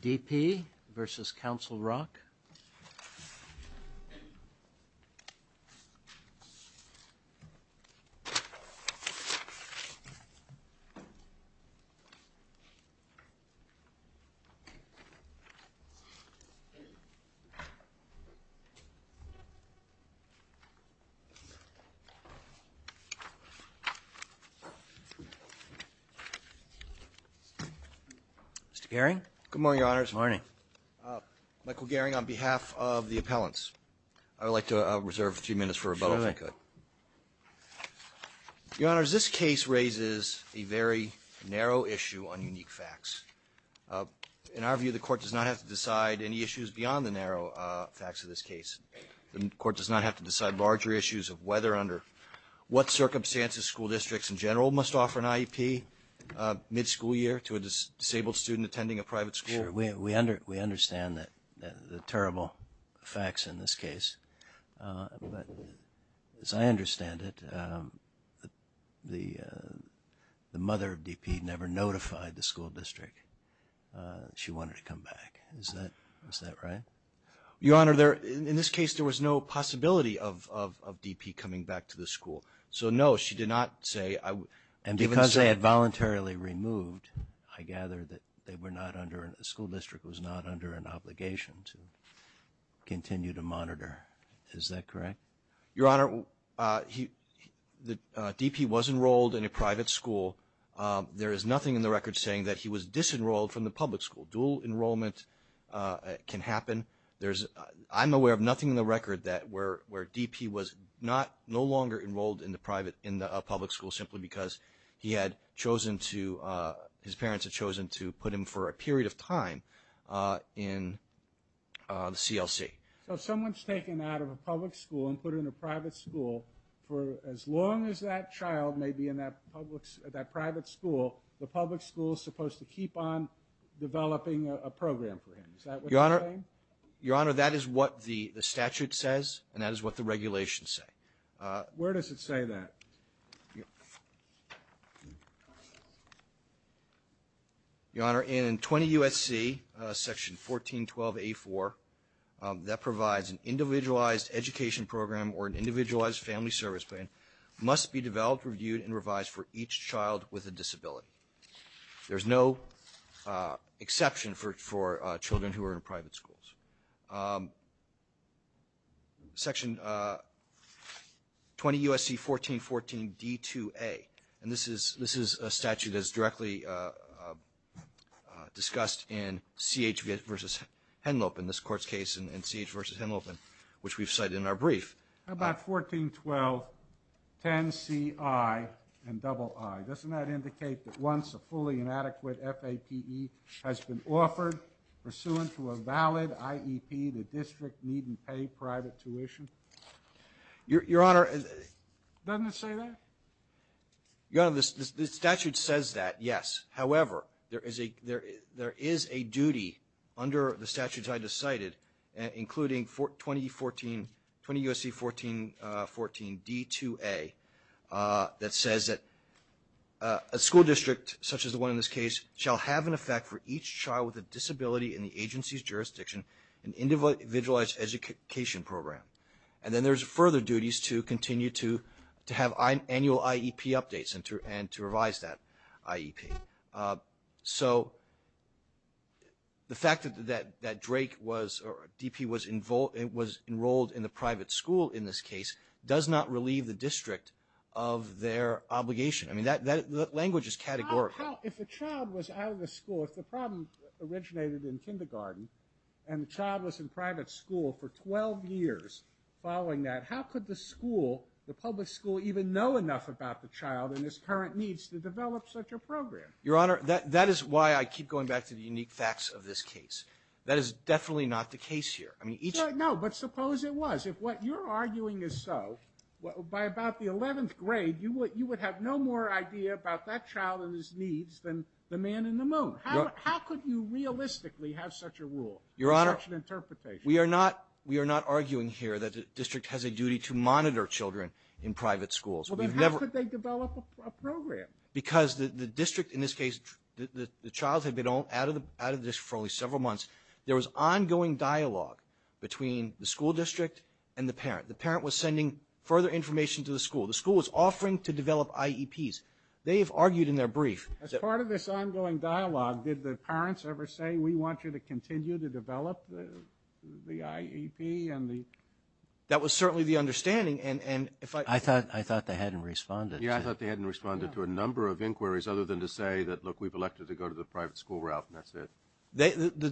D.P. versus Council Rock Mr. Gehring? Good morning, Your Honor. Good morning. Mr. Gehring, on behalf of the appellants, I would like to reserve a few minutes for rebuttal, if I could. Sure thing. Your Honor, as this case raises a very narrow issue on unique facts, in our view, the Court does not have to decide any issues beyond the narrow facts of this case. The Court does not have to decide larger issues of whether under what circumstances school districts in general must offer an IEP mid-school year to a disabled student attending a private school. Sure. We understand the terrible facts in this case, but as I understand it, the mother of D.P. never notified the school district that she wanted to come back. Is that right? Your Honor, in this case, there was no possibility of D.P. coming back to the school. So no, she did not say... And because they had voluntarily removed, I gather that the school district was not under an obligation to continue to monitor. Is that correct? Your Honor, D.P. was enrolled in a private school. There is nothing in the record saying that he was disenrolled from the public school. Dual enrollment can happen. I'm aware of nothing in the record where D.P. was no longer enrolled in a public school simply because his parents had chosen to put him for a period of time in the CLC. So someone's taken out of a public school and put him in a private school. For as long as that child may be in that private school, the public school is supposed to keep on developing a program for him. Is that what you're saying? Your Honor, that is what the statute says, and that is what the regulations say. Where does it say that? Your Honor, in 20 U.S.C., section 1412A.4, that provides an individualized education program or an individualized family service plan must be developed, reviewed, and revised for each child with a disability. There's no exception for children who are in private schools. Section 20 U.S.C. 1414 D.2.A., and this is a statute that is directly discussed in C.H. v. Henlopen, this Court's case in C.H. v. Henlopen, which we've cited in our brief. How about 1412 10 C.I. and double I? Doesn't that indicate that once a fully inadequate F.A.P.E. has been offered pursuant to a valid I.E.P., the district needn't pay private tuition? Your Honor, doesn't it say that? Your Honor, the statute says that, yes. However, there is a duty under the statutes I just cited, including 20 U.S.C. 1414 D.2.A. that says that a school district, such as the one in this case, shall have an effect for each child with a disability in the agency's jurisdiction an individualized education program. And then there's further duties to continue to have annual I.E.P. updates and to revise that I.E.P. So the fact that Drake was, or D.P. was enrolled in the private school in this case does not relieve the district of their obligation. I mean, that language is categorical. If a child was out of the school, if the problem originated in kindergarten and the child was in private school for 12 years following that, how could the school, the public school, even know enough about the child and his current needs to develop such a program? Your Honor, that is why I keep going back to the unique facts of this case. That is definitely not the case here. No, but suppose it was. If what you're arguing is so, by about the 11th grade, you would have no more idea about that child and his needs than the man in the moon. How could you realistically have such a rule, such an interpretation? We are not arguing here that the district has a duty to monitor children in private schools. How could they develop a program? Because the district, in this case, the child had been out of the district for only several months. There was ongoing dialogue between the school district and the parent. The parent was sending further information to the school. The school was offering to develop IEPs. They have argued in their brief... As part of this ongoing dialogue, did the parents ever say, we want you to continue to develop the IEP and the... That was certainly the understanding, and if I... I thought they hadn't responded. Yeah, I thought they hadn't responded to a number of inquiries other than to say that, look, we've elected to go to the private school route, and that's it.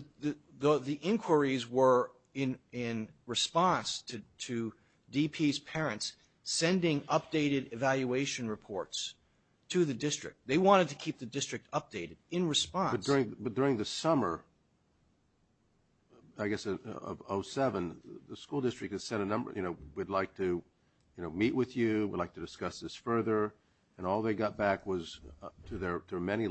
The inquiries were in response to DP's parents sending updated evaluation reports to the district. They wanted to keep the district updated in response. But during the summer, I guess of 2007, the school district had sent a number, you know, we'd like to meet with you, we'd like to discuss this further, and all they got back was, to their many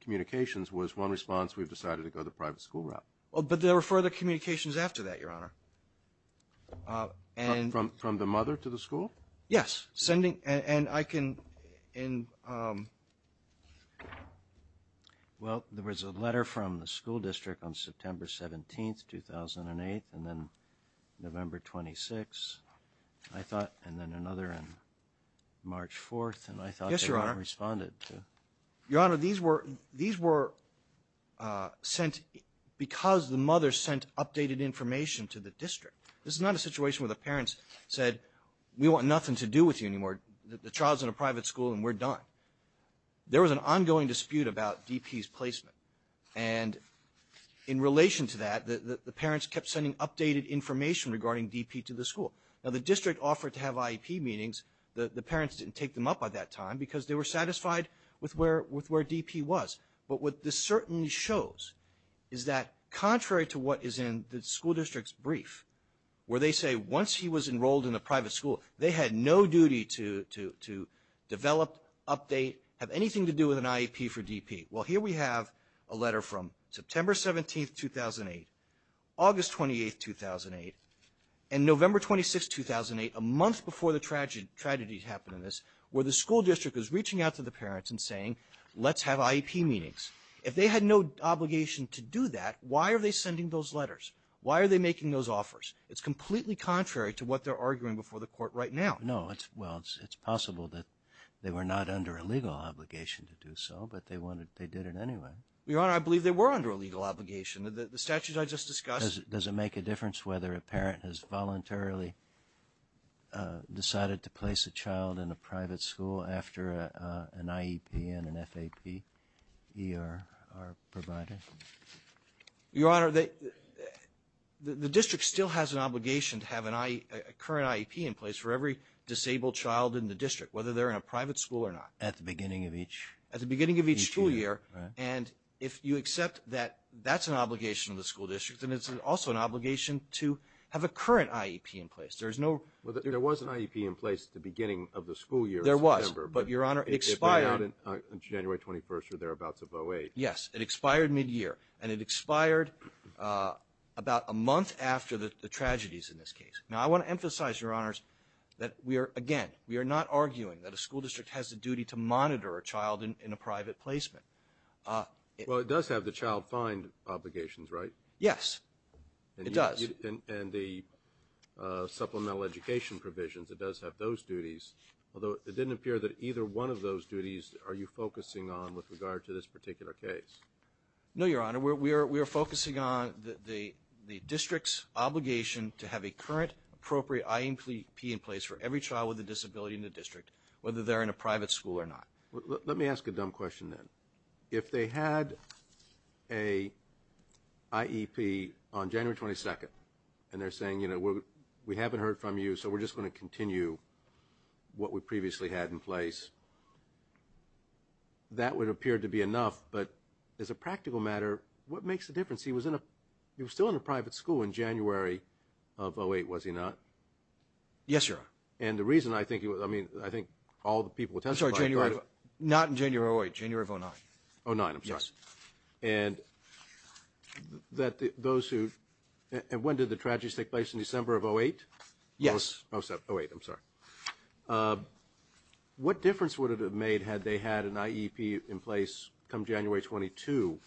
communications, was one response, we've decided to go the private school route. But there were further communications after that, Your Honor, and... From the mother to the school? Yes, sending, and I can... Well, there was a letter from the school district on September 17, 2008, and then November 26, I thought, and then another on March 4, and I thought they hadn't responded to... Yes, Your Honor. Your Honor, these were sent because the mother sent updated information to the district. This is not a situation where the parents said, we want nothing to do with you anymore, the child's in a private school and we're done. There was an ongoing dispute about DP's placement, and in relation to that, the parents kept sending updated information regarding DP to the school. Now, the district offered to have IEP meetings. The parents didn't take them up by that time because they were satisfied with where DP was. But what this certainly shows is that, contrary to what is in the school district's brief, where they say once he was enrolled in a private school, they had no duty to develop, update, have anything to do with an IEP for DP. Well, here we have a letter from September 17, 2008, August 28, 2008, and November 26, 2008, a month before the tragedy happened in this, where the school district was reaching out to the parents and saying, let's have IEP meetings. If they had no obligation to do that, why are they sending those letters? Why are they making those offers? It's completely contrary to what they're arguing before the court right now. No, well, it's possible that they were not under a legal obligation to do so, but they did it anyway. Your Honor, I believe they were under a legal obligation. The statutes I just discussed... Does it make a difference whether a parent has voluntarily decided to place a child in a private school after an IEP and an FAP-ER are provided? Your Honor, the district still has an obligation to have a current IEP in place for every disabled child in the district, whether they're in a private school or not. At the beginning of each school year, right? And if you accept that that's an obligation of the school district, then it's also an obligation to have a current IEP in place. There's no... There was an IEP in place at the beginning of the school year in September. There was, but, Your Honor, it expired... January 21st or thereabouts of 08. Yes, it expired mid-year, and it expired about a month after the tragedies in this case. Now, I want to emphasize, Your Honors, that we are, again, we are not arguing that a school district has a duty to monitor a child in a private placement. Well, it does have the child find obligations, right? Yes, it does. And the supplemental education provisions, it does have those duties, although it didn't appear that either one of those duties are you focusing on with regard to this particular case? No, Your Honor. We are focusing on the district's obligation to have a current appropriate IEP in place for every child with a disability in the district, whether they're in a private school or not. Let me ask a dumb question, then. If they had a IEP on January 22nd, and they're saying, you know, we haven't heard from you, so we're just going to continue what we previously had in place, that would appear to be enough, but as a practical matter, what makes the difference? He was in a... he was still in a private school in January of 08, was he not? Yes, Your Honor. And the reason I think... I mean, I think all the people who testified... I'm sorry, January of... not in January of 08, January of 09. 09, I'm sorry. Yes. And that those who... when did the tragedies take place, in December of 08? Yes. 07, 08, I'm sorry. What difference would it have made had they had an IEP in place come January 22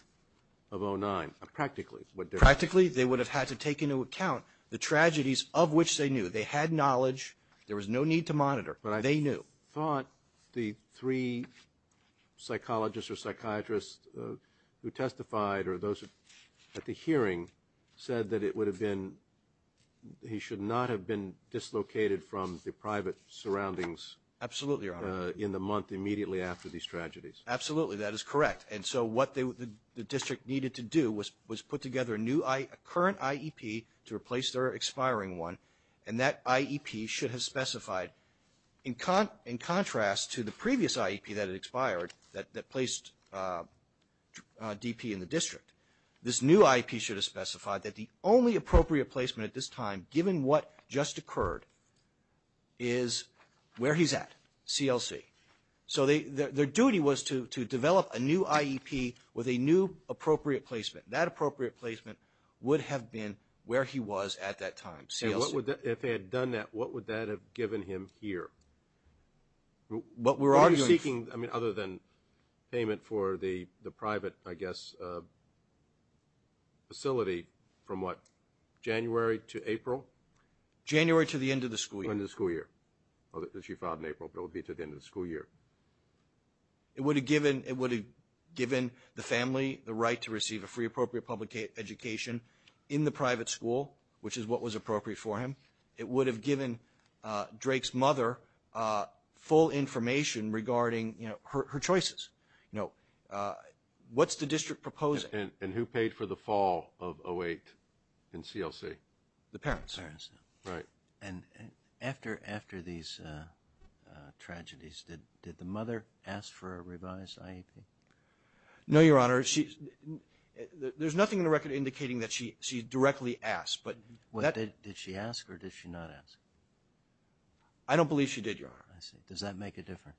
of 09? Practically, what difference? Practically, they would have had to take into account the tragedies of which they knew. They had knowledge. There was no need to monitor. They knew. But I thought the three psychologists or psychiatrists who testified, or those at the hearing, said that it would have been... he should not have been dislocated from the private surroundings... Absolutely, Your Honor. ...in the month immediately after these tragedies. Absolutely, that is correct. And so what the district needed to do was put together a new... a current IEP to replace their expiring one, and that IEP should have specified, in contrast to the previous IEP that had expired, that placed DP in the district, this new IEP should have specified that the only appropriate placement at this time, given what just occurred, is where he's at, CLC. So their duty was to develop a new IEP with a new appropriate placement. That appropriate placement would have been where he was at that time, CLC. If they had done that, what would that have given him here? What we're arguing... What are you seeking, other than payment for the private, I guess, facility, from what, January to April? January to the end of the school year. To the end of the school year. She filed in April, but it would be to the end of the school year. It would have given the family the right to receive a free appropriate public education in the private school, which is what was appropriate for him. It would have given Drake's mother full information regarding her choices. You know, what's the district proposing? And who paid for the fall of 08 in CLC? The parents. Right. And after these tragedies, did the mother ask for a revised IEP? No, Your Honor. There's nothing in the record indicating that she directly asked. Did she ask, or did she not ask? I don't believe she did, Your Honor. I see. Does that make a difference?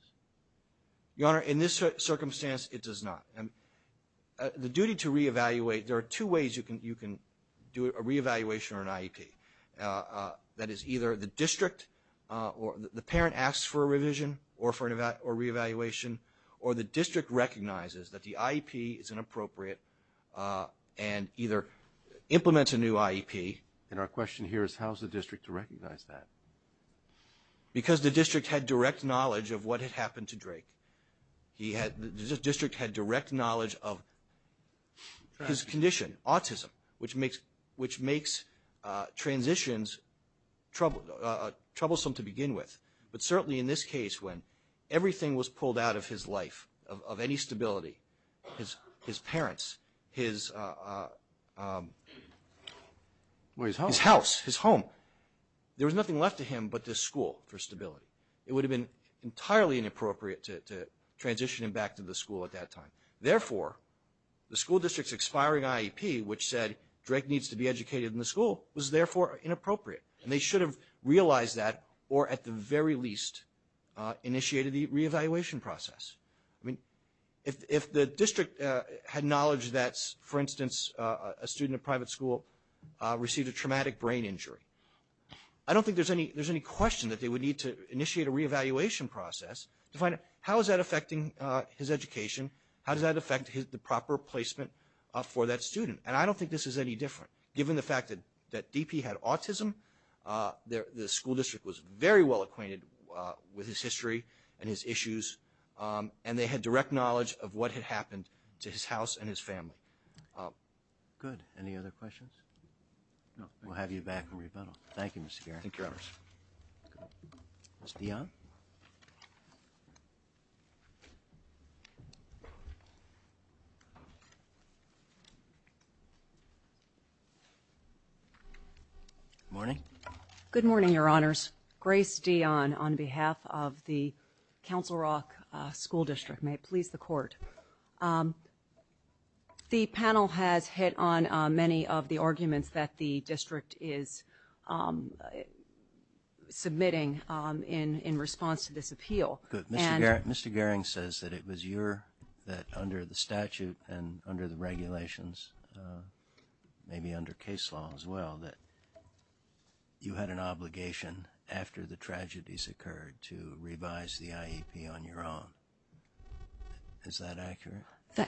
Your Honor, in this circumstance, it does not. The duty to re-evaluate, there are two ways you can do a re-evaluation or an IEP. That is, either the district, or the parent asks for a revision, or for a re-evaluation, or the district recognizes that the IEP is inappropriate, and either implements a new IEP. And our question here is, how is the district to recognize that? Because the district had direct knowledge of what had happened to Drake. The district had direct knowledge of his condition, autism, which makes transitions troublesome to begin with. But certainly in this case, when everything was pulled out of his life, of any stability, his parents, his house, his home, there was nothing left to him but this school for stability. It would have been entirely inappropriate to transition him back to the school at that time. Therefore, the school district's expiring IEP, which said Drake needs to be educated in the school, was therefore inappropriate. And they should have realized that, or at the very least, initiated the re-evaluation process. I mean, if the district had knowledge that, for instance, a student at a private school received a traumatic brain injury, I don't think there's any question that they would need to initiate a re-evaluation process to find out how is that affecting his education, how does that affect the proper placement for that student. And I don't think this is any different. the school district was very well acquainted with his history and his issues. And they had direct knowledge of what had happened to his house and his family. Good. Any other questions? We'll have you back in rebuttal. Thank you, Mr. Garrett. Ms. Dionne? Good morning. Good morning, Your Honors. Grace Dionne on behalf of the Council Rock School District. May it please the Court. The panel has hit on many of the arguments that the district is submitting in response to this appeal. Mr. Garrett, Mr. Gehring says that it was your, under the statute and under the regulations, maybe under case law as well, that you had an obligation after the tragedies occurred to revise the IEP on your own. Is that accurate?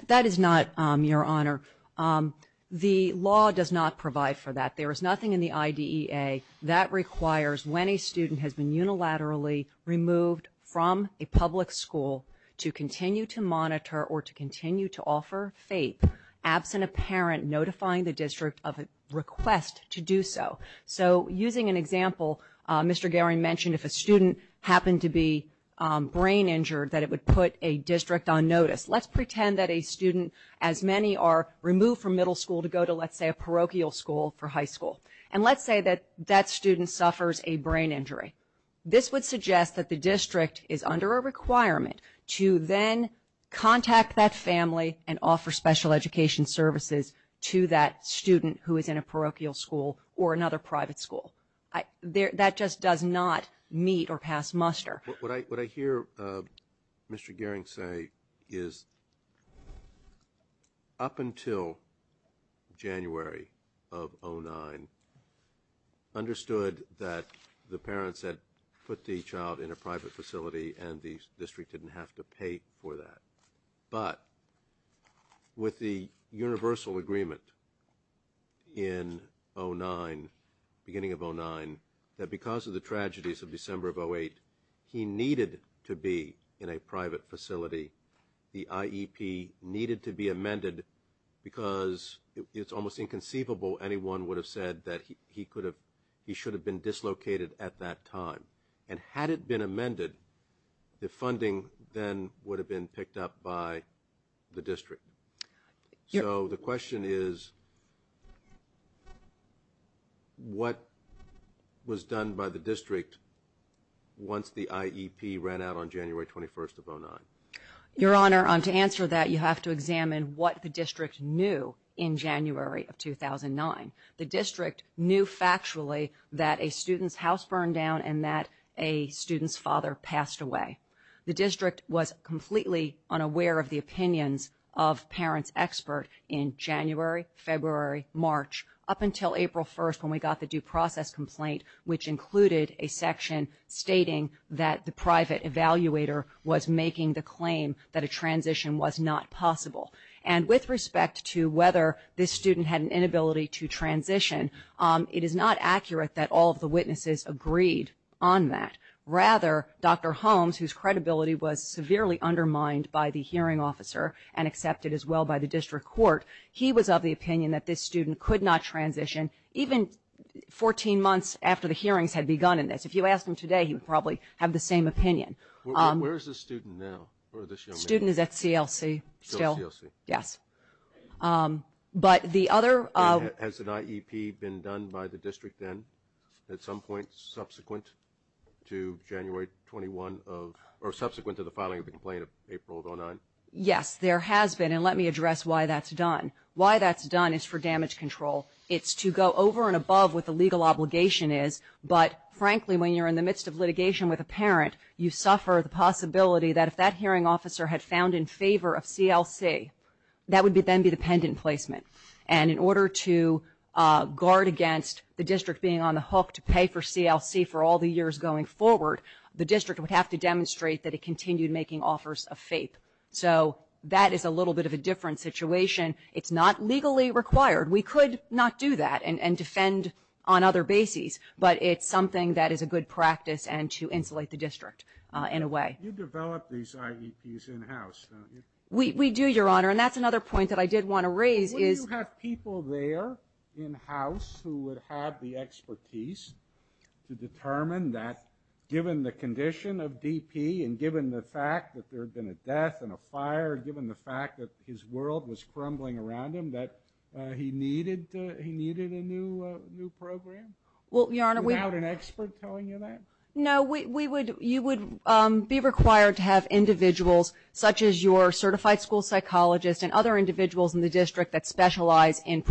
That is not, Your Honor. The law does not provide for that. There is nothing in the IDEA that requires when a student has been unilaterally removed from a public school to continue to monitor or to continue to offer FAPE absent a parent notifying the district of a request to do so. So, using an example, Mr. Gehring mentioned if a student happened to be brain injured that it would put a district on notice. Let's pretend that a student as many are removed from middle school to go to, let's say, a parochial school for high school. And let's say that that student suffers a brain injury. This would suggest that the district is under a requirement to then contact that family and offer special education services to that student who is in a parochial school or another private school. That just does not meet or pass muster. What I hear Mr. Gehring say is up until January of 2009 understood that the parents had put the child in a private facility and the district didn't have to pay for that. But, with the universal agreement in beginning of 2009 that because of the tragedies of December of 2008, he needed to be in a private facility. The IEP needed to be amended because it's almost inconceivable anyone would have said that he should have been dislocated been amended, the funding then would have been picked up by the district. So, the question is what was done by the district once the IEP ran out on January 21st of 2009? Your Honor, to answer that you have to examine what the district knew in January of 2009. The district knew factually that a student's house burned down and that a student's father passed away. The district was completely unaware of the opinions of parents expert in January, February, March up until April 1st when we got the due process complaint which included a section stating that the private evaluator was making the claim that a transition was not possible. And with respect to whether this student had an inability to transition it is not accurate that all of the witnesses agreed on that. Rather, Dr. Holmes, whose credibility was severely undermined by the hearing officer and accepted as well by the district court, he was of the opinion that this student could not transition even 14 months after the hearings had begun in this. If you asked him today, he would probably have the same opinion. Where is the student now? Student is at CLC still. But the other Has an IEP been done by the district then? At some point subsequent to January 21 or subsequent to the filing of the complaint of April 2009? Yes, there has been and let me address why that's done. Why that's done is for damage control. It's to go over and above what the legal obligation is but frankly when you're in the midst of litigation with a parent, you suffer the possibility that if that hearing officer had found in favor of CLC that would then be the pendant placement. And in order to guard against the district being on the hook to pay for CLC for all the years going forward, the district would have to demonstrate that it continued making offers of fape. So that is a little bit of a different situation. It's not legally required. We could not do that and defend on other bases, but it's something that is a good practice and to insulate the district in a way. You develop these IEPs in-house don't you? We do, Your Honor. And that's another point that I did want to raise is Would you have people there in-house who would have the expertise to determine that given the condition of DP and given the fact that there had been a death and a fire given the fact that his world was crumbling around him that he needed a new program? Well, Your Honor. Without an expert telling you that? No, you would be required to have individuals such as your certified school psychologist and other individuals in the district that with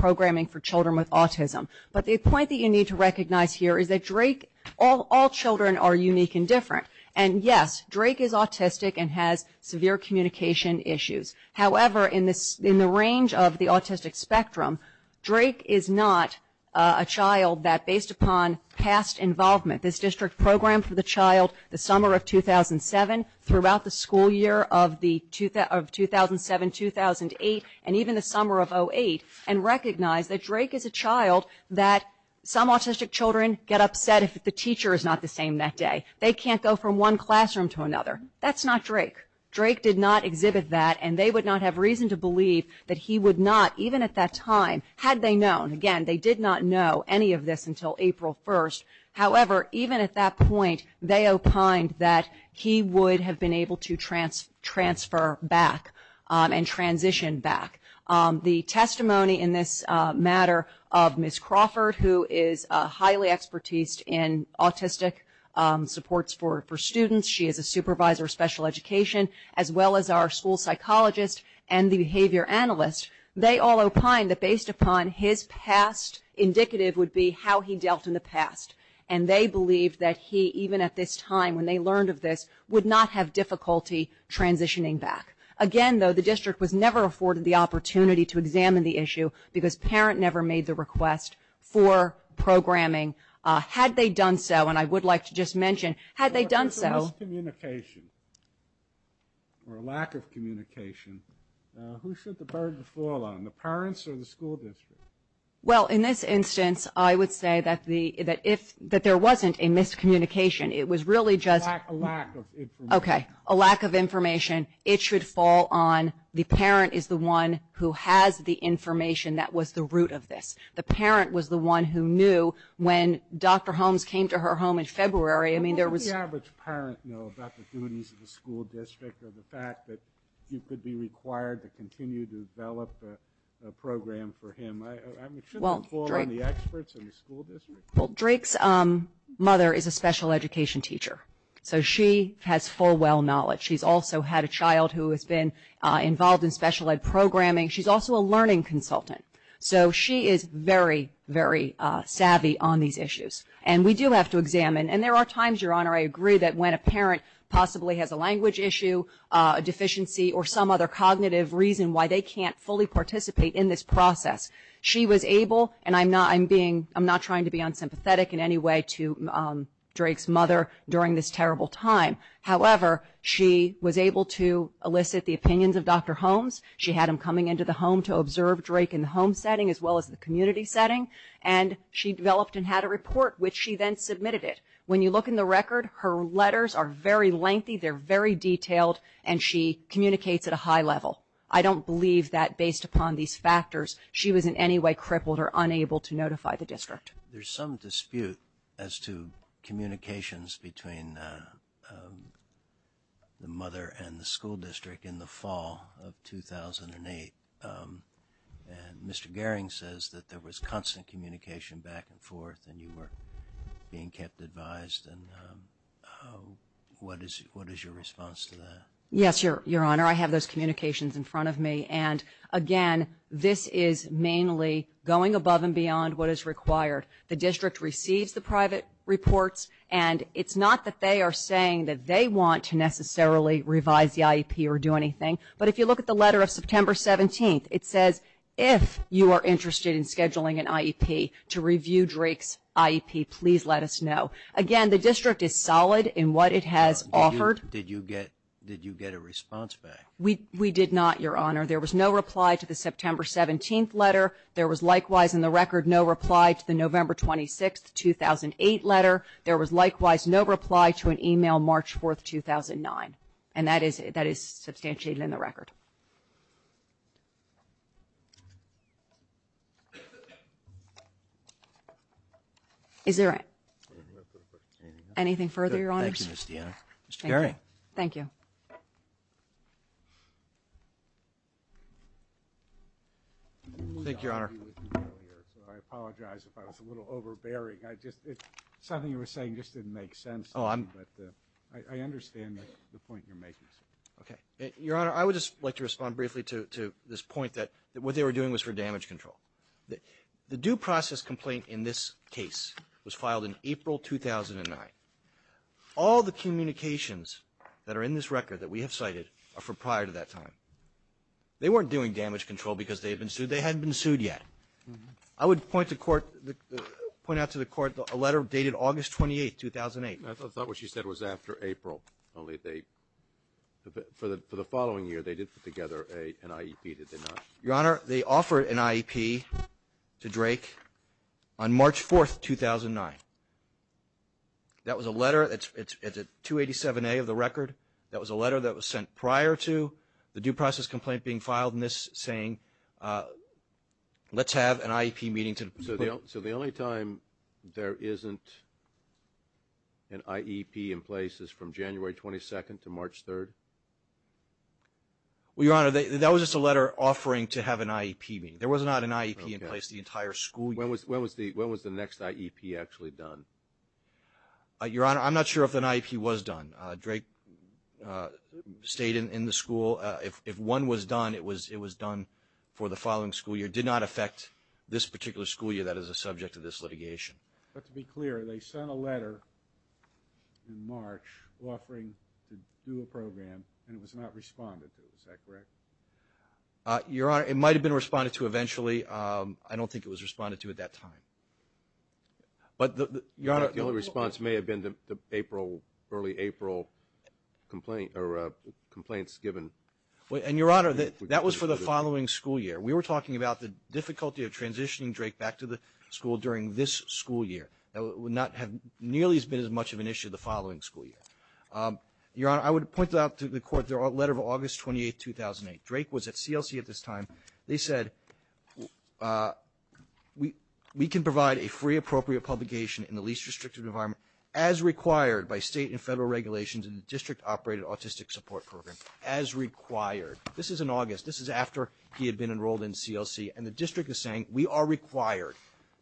autism. But the point that you need to recognize here is that Drake all children are unique and different. And yes, Drake is autistic and has severe communication issues. However, in the range of the autistic spectrum Drake is not a child that based upon past involvement, this district programmed the child the summer of 2007 throughout the school year of 2007, 2008 and even the summer of 2008 and recognized that Drake is a child that some autistic children get upset if the teacher is not the same that day. They can't go from one classroom to another. That's not Drake. Drake did not exhibit that and they would not have reason to believe that he would not, even at that time, had they known. Again, they did not know any of this until April 1st. However, even at that point they opined that he would have been able to transfer back and transition back. The testimony in this matter of Ms. Crawford, who is highly expertised in autistic supports for students. She is a supervisor of special education as well as our school psychologist and the behavior analyst. They all opined that based upon his past, indicative would be how he dealt in the past. They believed that he, even at this time when they learned of this, would not have difficulty transitioning back. Again, though, the district was never afforded the opportunity to examine the issue because parent never made the request for programming. Had they done so, and I would like to just mention, had they done so If there was a miscommunication or a lack of communication who should the burden fall on? The parents or the school district? Well, in this instance, I would say that there wasn't a miscommunication. It was really just a lack of information. It should fall on the parent is the one who has the information that was the root of this. The parent was the one who knew when Dr. Holmes came to her home in February, I mean, there was How does the average parent know about the duties of the school district or the fact that you could be required to continue to develop a program for him? I mean, shouldn't it fall on the experts in the school district? Drake's mother is a special education teacher, so she has full well knowledge. She's also had a child who has been involved in special ed programming. She's also a learning consultant. So she is very, very savvy on these issues. And we do have to examine, and there are times, Your Honor, I agree that when a parent possibly has a language issue, a deficiency or some other cognitive reason why they can't fully participate in this process she was able, and I'm not I'm being, I'm not trying to be unsympathetic in any way to Drake's terrible time. However, she was able to elicit the opinions of Dr. Holmes. She had him coming into the home to observe Drake in the home setting as well as the community setting and she developed and had a report which she then submitted it. When you look in the record, her letters are very lengthy, they're very detailed, and she communicates at a high level. I don't believe that based upon these factors she was in any way crippled or unable to notify the district. There's some dispute as to communications between the mother and the school district in the fall of 2008 and Mr. Gehring says that there was constant communication back and forth and you were being kept advised and what is your response to that? Yes, Your Honor, I have those communications in front of me and again, this is mainly going above and beyond what is required. The district receives the private reports and it's not that they are saying that they want to necessarily revise the IEP or do anything, but if you look at the letter of September 17th, it says, if you are interested in scheduling an IEP to review Drake's IEP, please let us know. Again, the district is solid in what it has offered. Did you get a response back? We did not, Your Honor. There was no reply to the September 17th letter. There was likewise in the record no reply to the November 26th 2008 letter. There was likewise no reply to an email March 4th, 2009 and that is substantiated in the record. Is there anything further, Your Honors? Mr. Gehring. Thank you. Thank you, Your Honor. I apologize if I was a little overbearing. Something you were saying just didn't make sense. I understand the point you're making. Your Honor, I would just like to respond briefly to this point that what they were doing was for damage control. The due process complaint in this case was filed in April 2009. All the communications that are in this record that we have cited are for prior to that time. They weren't doing damage control because they had been sued. They hadn't been sued yet. I would point to court a letter dated August 28th, 2008. I thought what she said was after April. For the following year they did put together an IEP did they not? Your Honor, they offered an IEP to Drake on March 4th, 2009. That was a letter. It's at 287A of the record. That was a letter that was sent prior to the due process complaint being filed in this saying let's have an IEP meeting. So the only time there isn't an IEP in place is from January 22nd to March 3rd? Well, Your Honor, that was just a letter offering to have an IEP meeting. There was not an IEP in place the entire school year. When was the next IEP actually done? Your Honor, I'm not sure if an IEP was done. Drake stayed in the school. If one was done, it was done for the following school year. It did not affect this particular school year. That is the subject of this litigation. But to be clear, they sent a letter in March offering to do a program and it was not responded to. Is that correct? Your Honor, it might have been responded to eventually. I don't think it was responded to at that time. But Your Honor... The only response may have been the early April complaints given. And Your Honor, that was for the following school year. We were talking about the difficulty of transitioning Drake back to the school during this school year. It would not have nearly been as much of an issue the following school year. Your Honor, I would point out to the Court their letter of August 28th, 2008. Drake was at CLC at this time. They said we can provide a free appropriate publication in the case-restricted environment as required by state and federal regulations in the District Operated Autistic Support Program as required. This is in August. This is after he had been enrolled in CLC and the District is saying we are required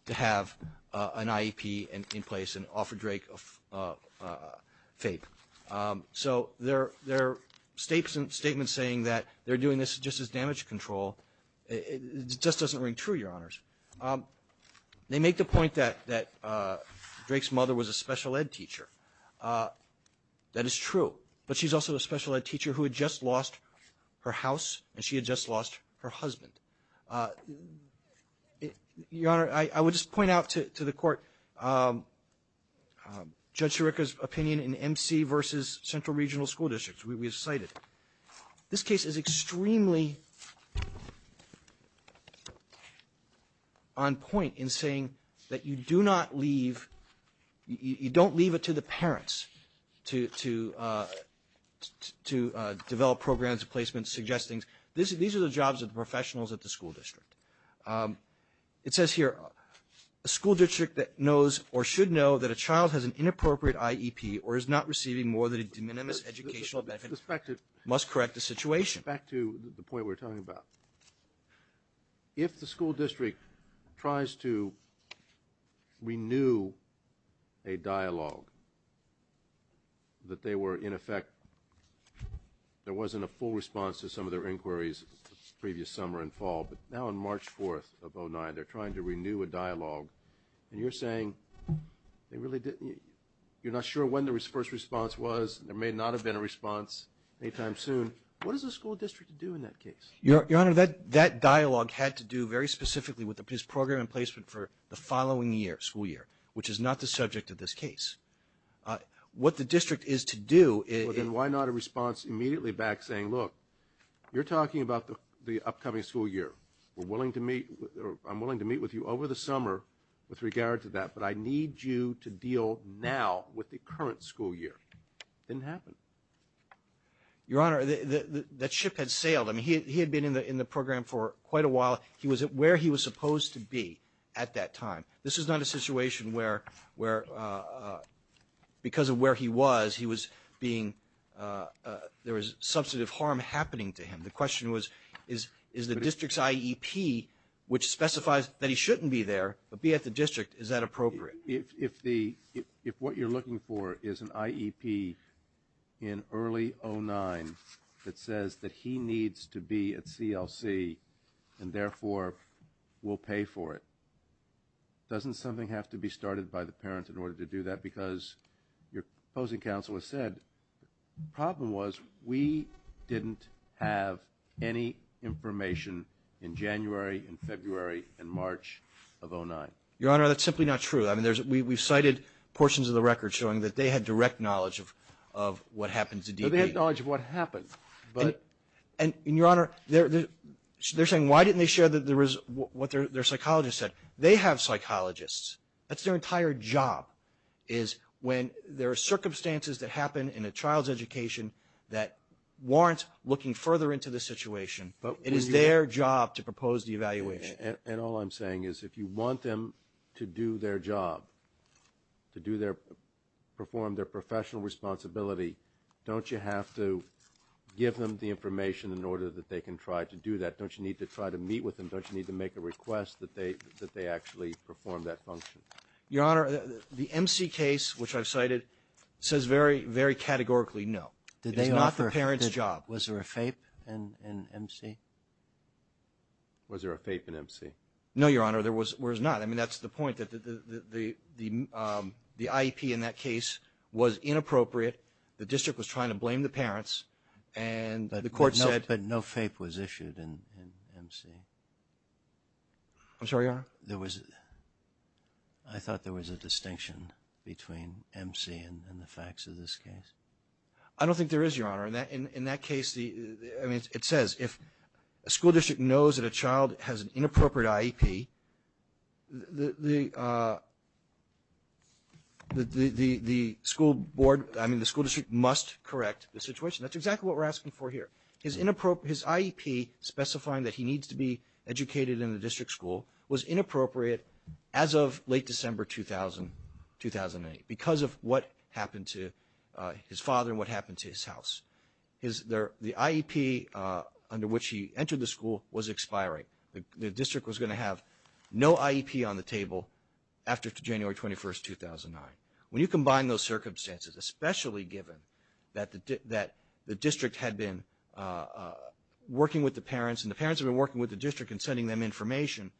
to have an IEP in place and offer Drake a FAPE. So their statement saying that they're doing this just as damage control just doesn't ring true, Your Honors. They make the point that Drake's mother was a special ed teacher. That is true. But she's also a special ed teacher who had just lost her house and she had just lost her husband. Your Honor, I would just point out to the Court Judge Sirica's opinion in MC versus Central Regional School Districts. We have cited. This case is extremely on point in saying that you do not leave, you don't leave it to the parents to develop programs, placements, suggestions. These are the jobs of the professionals at the school district. It says here a school district that knows or should know that a child has an inappropriate IEP or is not receiving more than a de minimis educational benefit must correct the situation. Back to the point we were talking about. If the school district tries to renew a dialogue that they were in effect there wasn't a full response to some of their inquiries the previous summer and fall but now on March 4th of 2009 they're trying to renew a dialogue and you're saying they really didn't. You're not sure when the first response was. There may not have been a response anytime soon. What does a school district do in that case? Your Honor, that dialogue had to do very specifically with this program and placement for the following year, school year which is not the subject of this case. What the district is to do is... Well then why not a response immediately back saying look you're talking about the upcoming school year we're willing to meet I'm willing to meet with you over the summer with regard to that but I need you to deal now with the current school year. Didn't happen. Your Honor that ship had sailed. I mean he had been in the program for quite a while he was where he was supposed to be at that time. This is not a situation where because of where he was he was being there was substantive harm happening to him the question was is the district's IEP which specifies that he shouldn't be there but be at the district is that appropriate? If what you're looking for is an IEP in early 2009 that says that he needs to be at CLC and therefore will pay for it doesn't something have to be started by the parents in order to do that because your opposing counsel has said the problem was we didn't have any information in January and February and March of 2009. Your Honor that's simply not true. I mean we've cited portions of the record showing that they had direct knowledge of what happened to D.P. They had knowledge of what happened but and your Honor they're saying why didn't they share what their psychologist said. They have psychologists. That's their entire job is when there are circumstances that happen in a child's education that warrants looking further into the situation but it is their job to propose the evaluation. And all I'm saying is if you want them to do their job, to do their perform their professional responsibility, don't you have to give them the information in order that they can try to do that. Don't you need to try to meet with them? Don't you need to make a request that they actually perform that function? Your Honor the MC case which I've cited says very categorically no. It's not the parent's job. Was there a FAPE in MC? Was there a FAPE in MC? No, Your Honor. There was not. I mean that's the point. The IEP in that case was inappropriate. The district was trying to blame the parents and the court said. But no FAPE was issued in MC. I'm sorry, Your Honor? There was I thought there was a distinction between MC and the facts of this case. I don't think there is, Your Honor. In that case it says if a school district knows that a child has an inappropriate IEP the school board, I mean the school district must correct the situation. That's exactly what we're asking for here. His IEP specifying that he needs to be educated in the district school was inappropriate as of late December 2008 because of what happened to his father and what happened to his house. The IEP under which he entered the school was expiring. The district was going to have no IEP on the table after January 21st, 2009. When you combine those circumstances, especially given that the district had been working with the parents and the parents had been working with the district and sending them information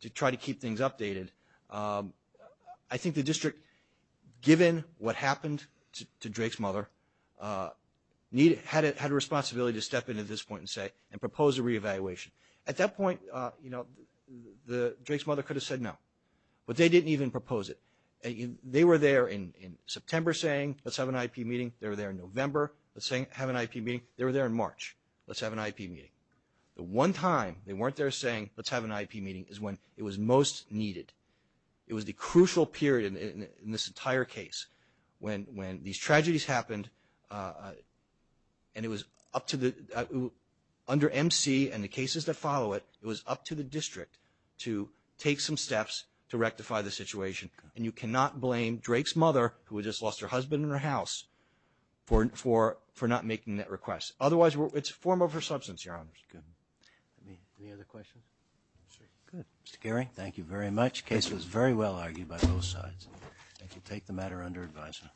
to try to keep things updated I think the district given what happened to Drake's mother had a responsibility to step into this point and propose a reevaluation. At that point Drake's mother could have said no but they didn't even propose it. They were there in September saying let's have an IEP meeting. They were there in November saying have an IEP meeting. They were there in March. Let's have an IEP meeting. The one time they weren't there saying let's have an IEP meeting is when it was most needed. It was the crucial period in this entire case when these tragedies happened and it was up to under MC and the cases that follow it, it was up to the district to take some steps to rectify the situation. You cannot blame Drake's mother who had just lost her husband and her house for not making that request. Otherwise, it's form over substance, Your Honor. Any other questions? Mr. Geary, thank you very much. The case was very well argued by both sides. I think you take the matter under advisement.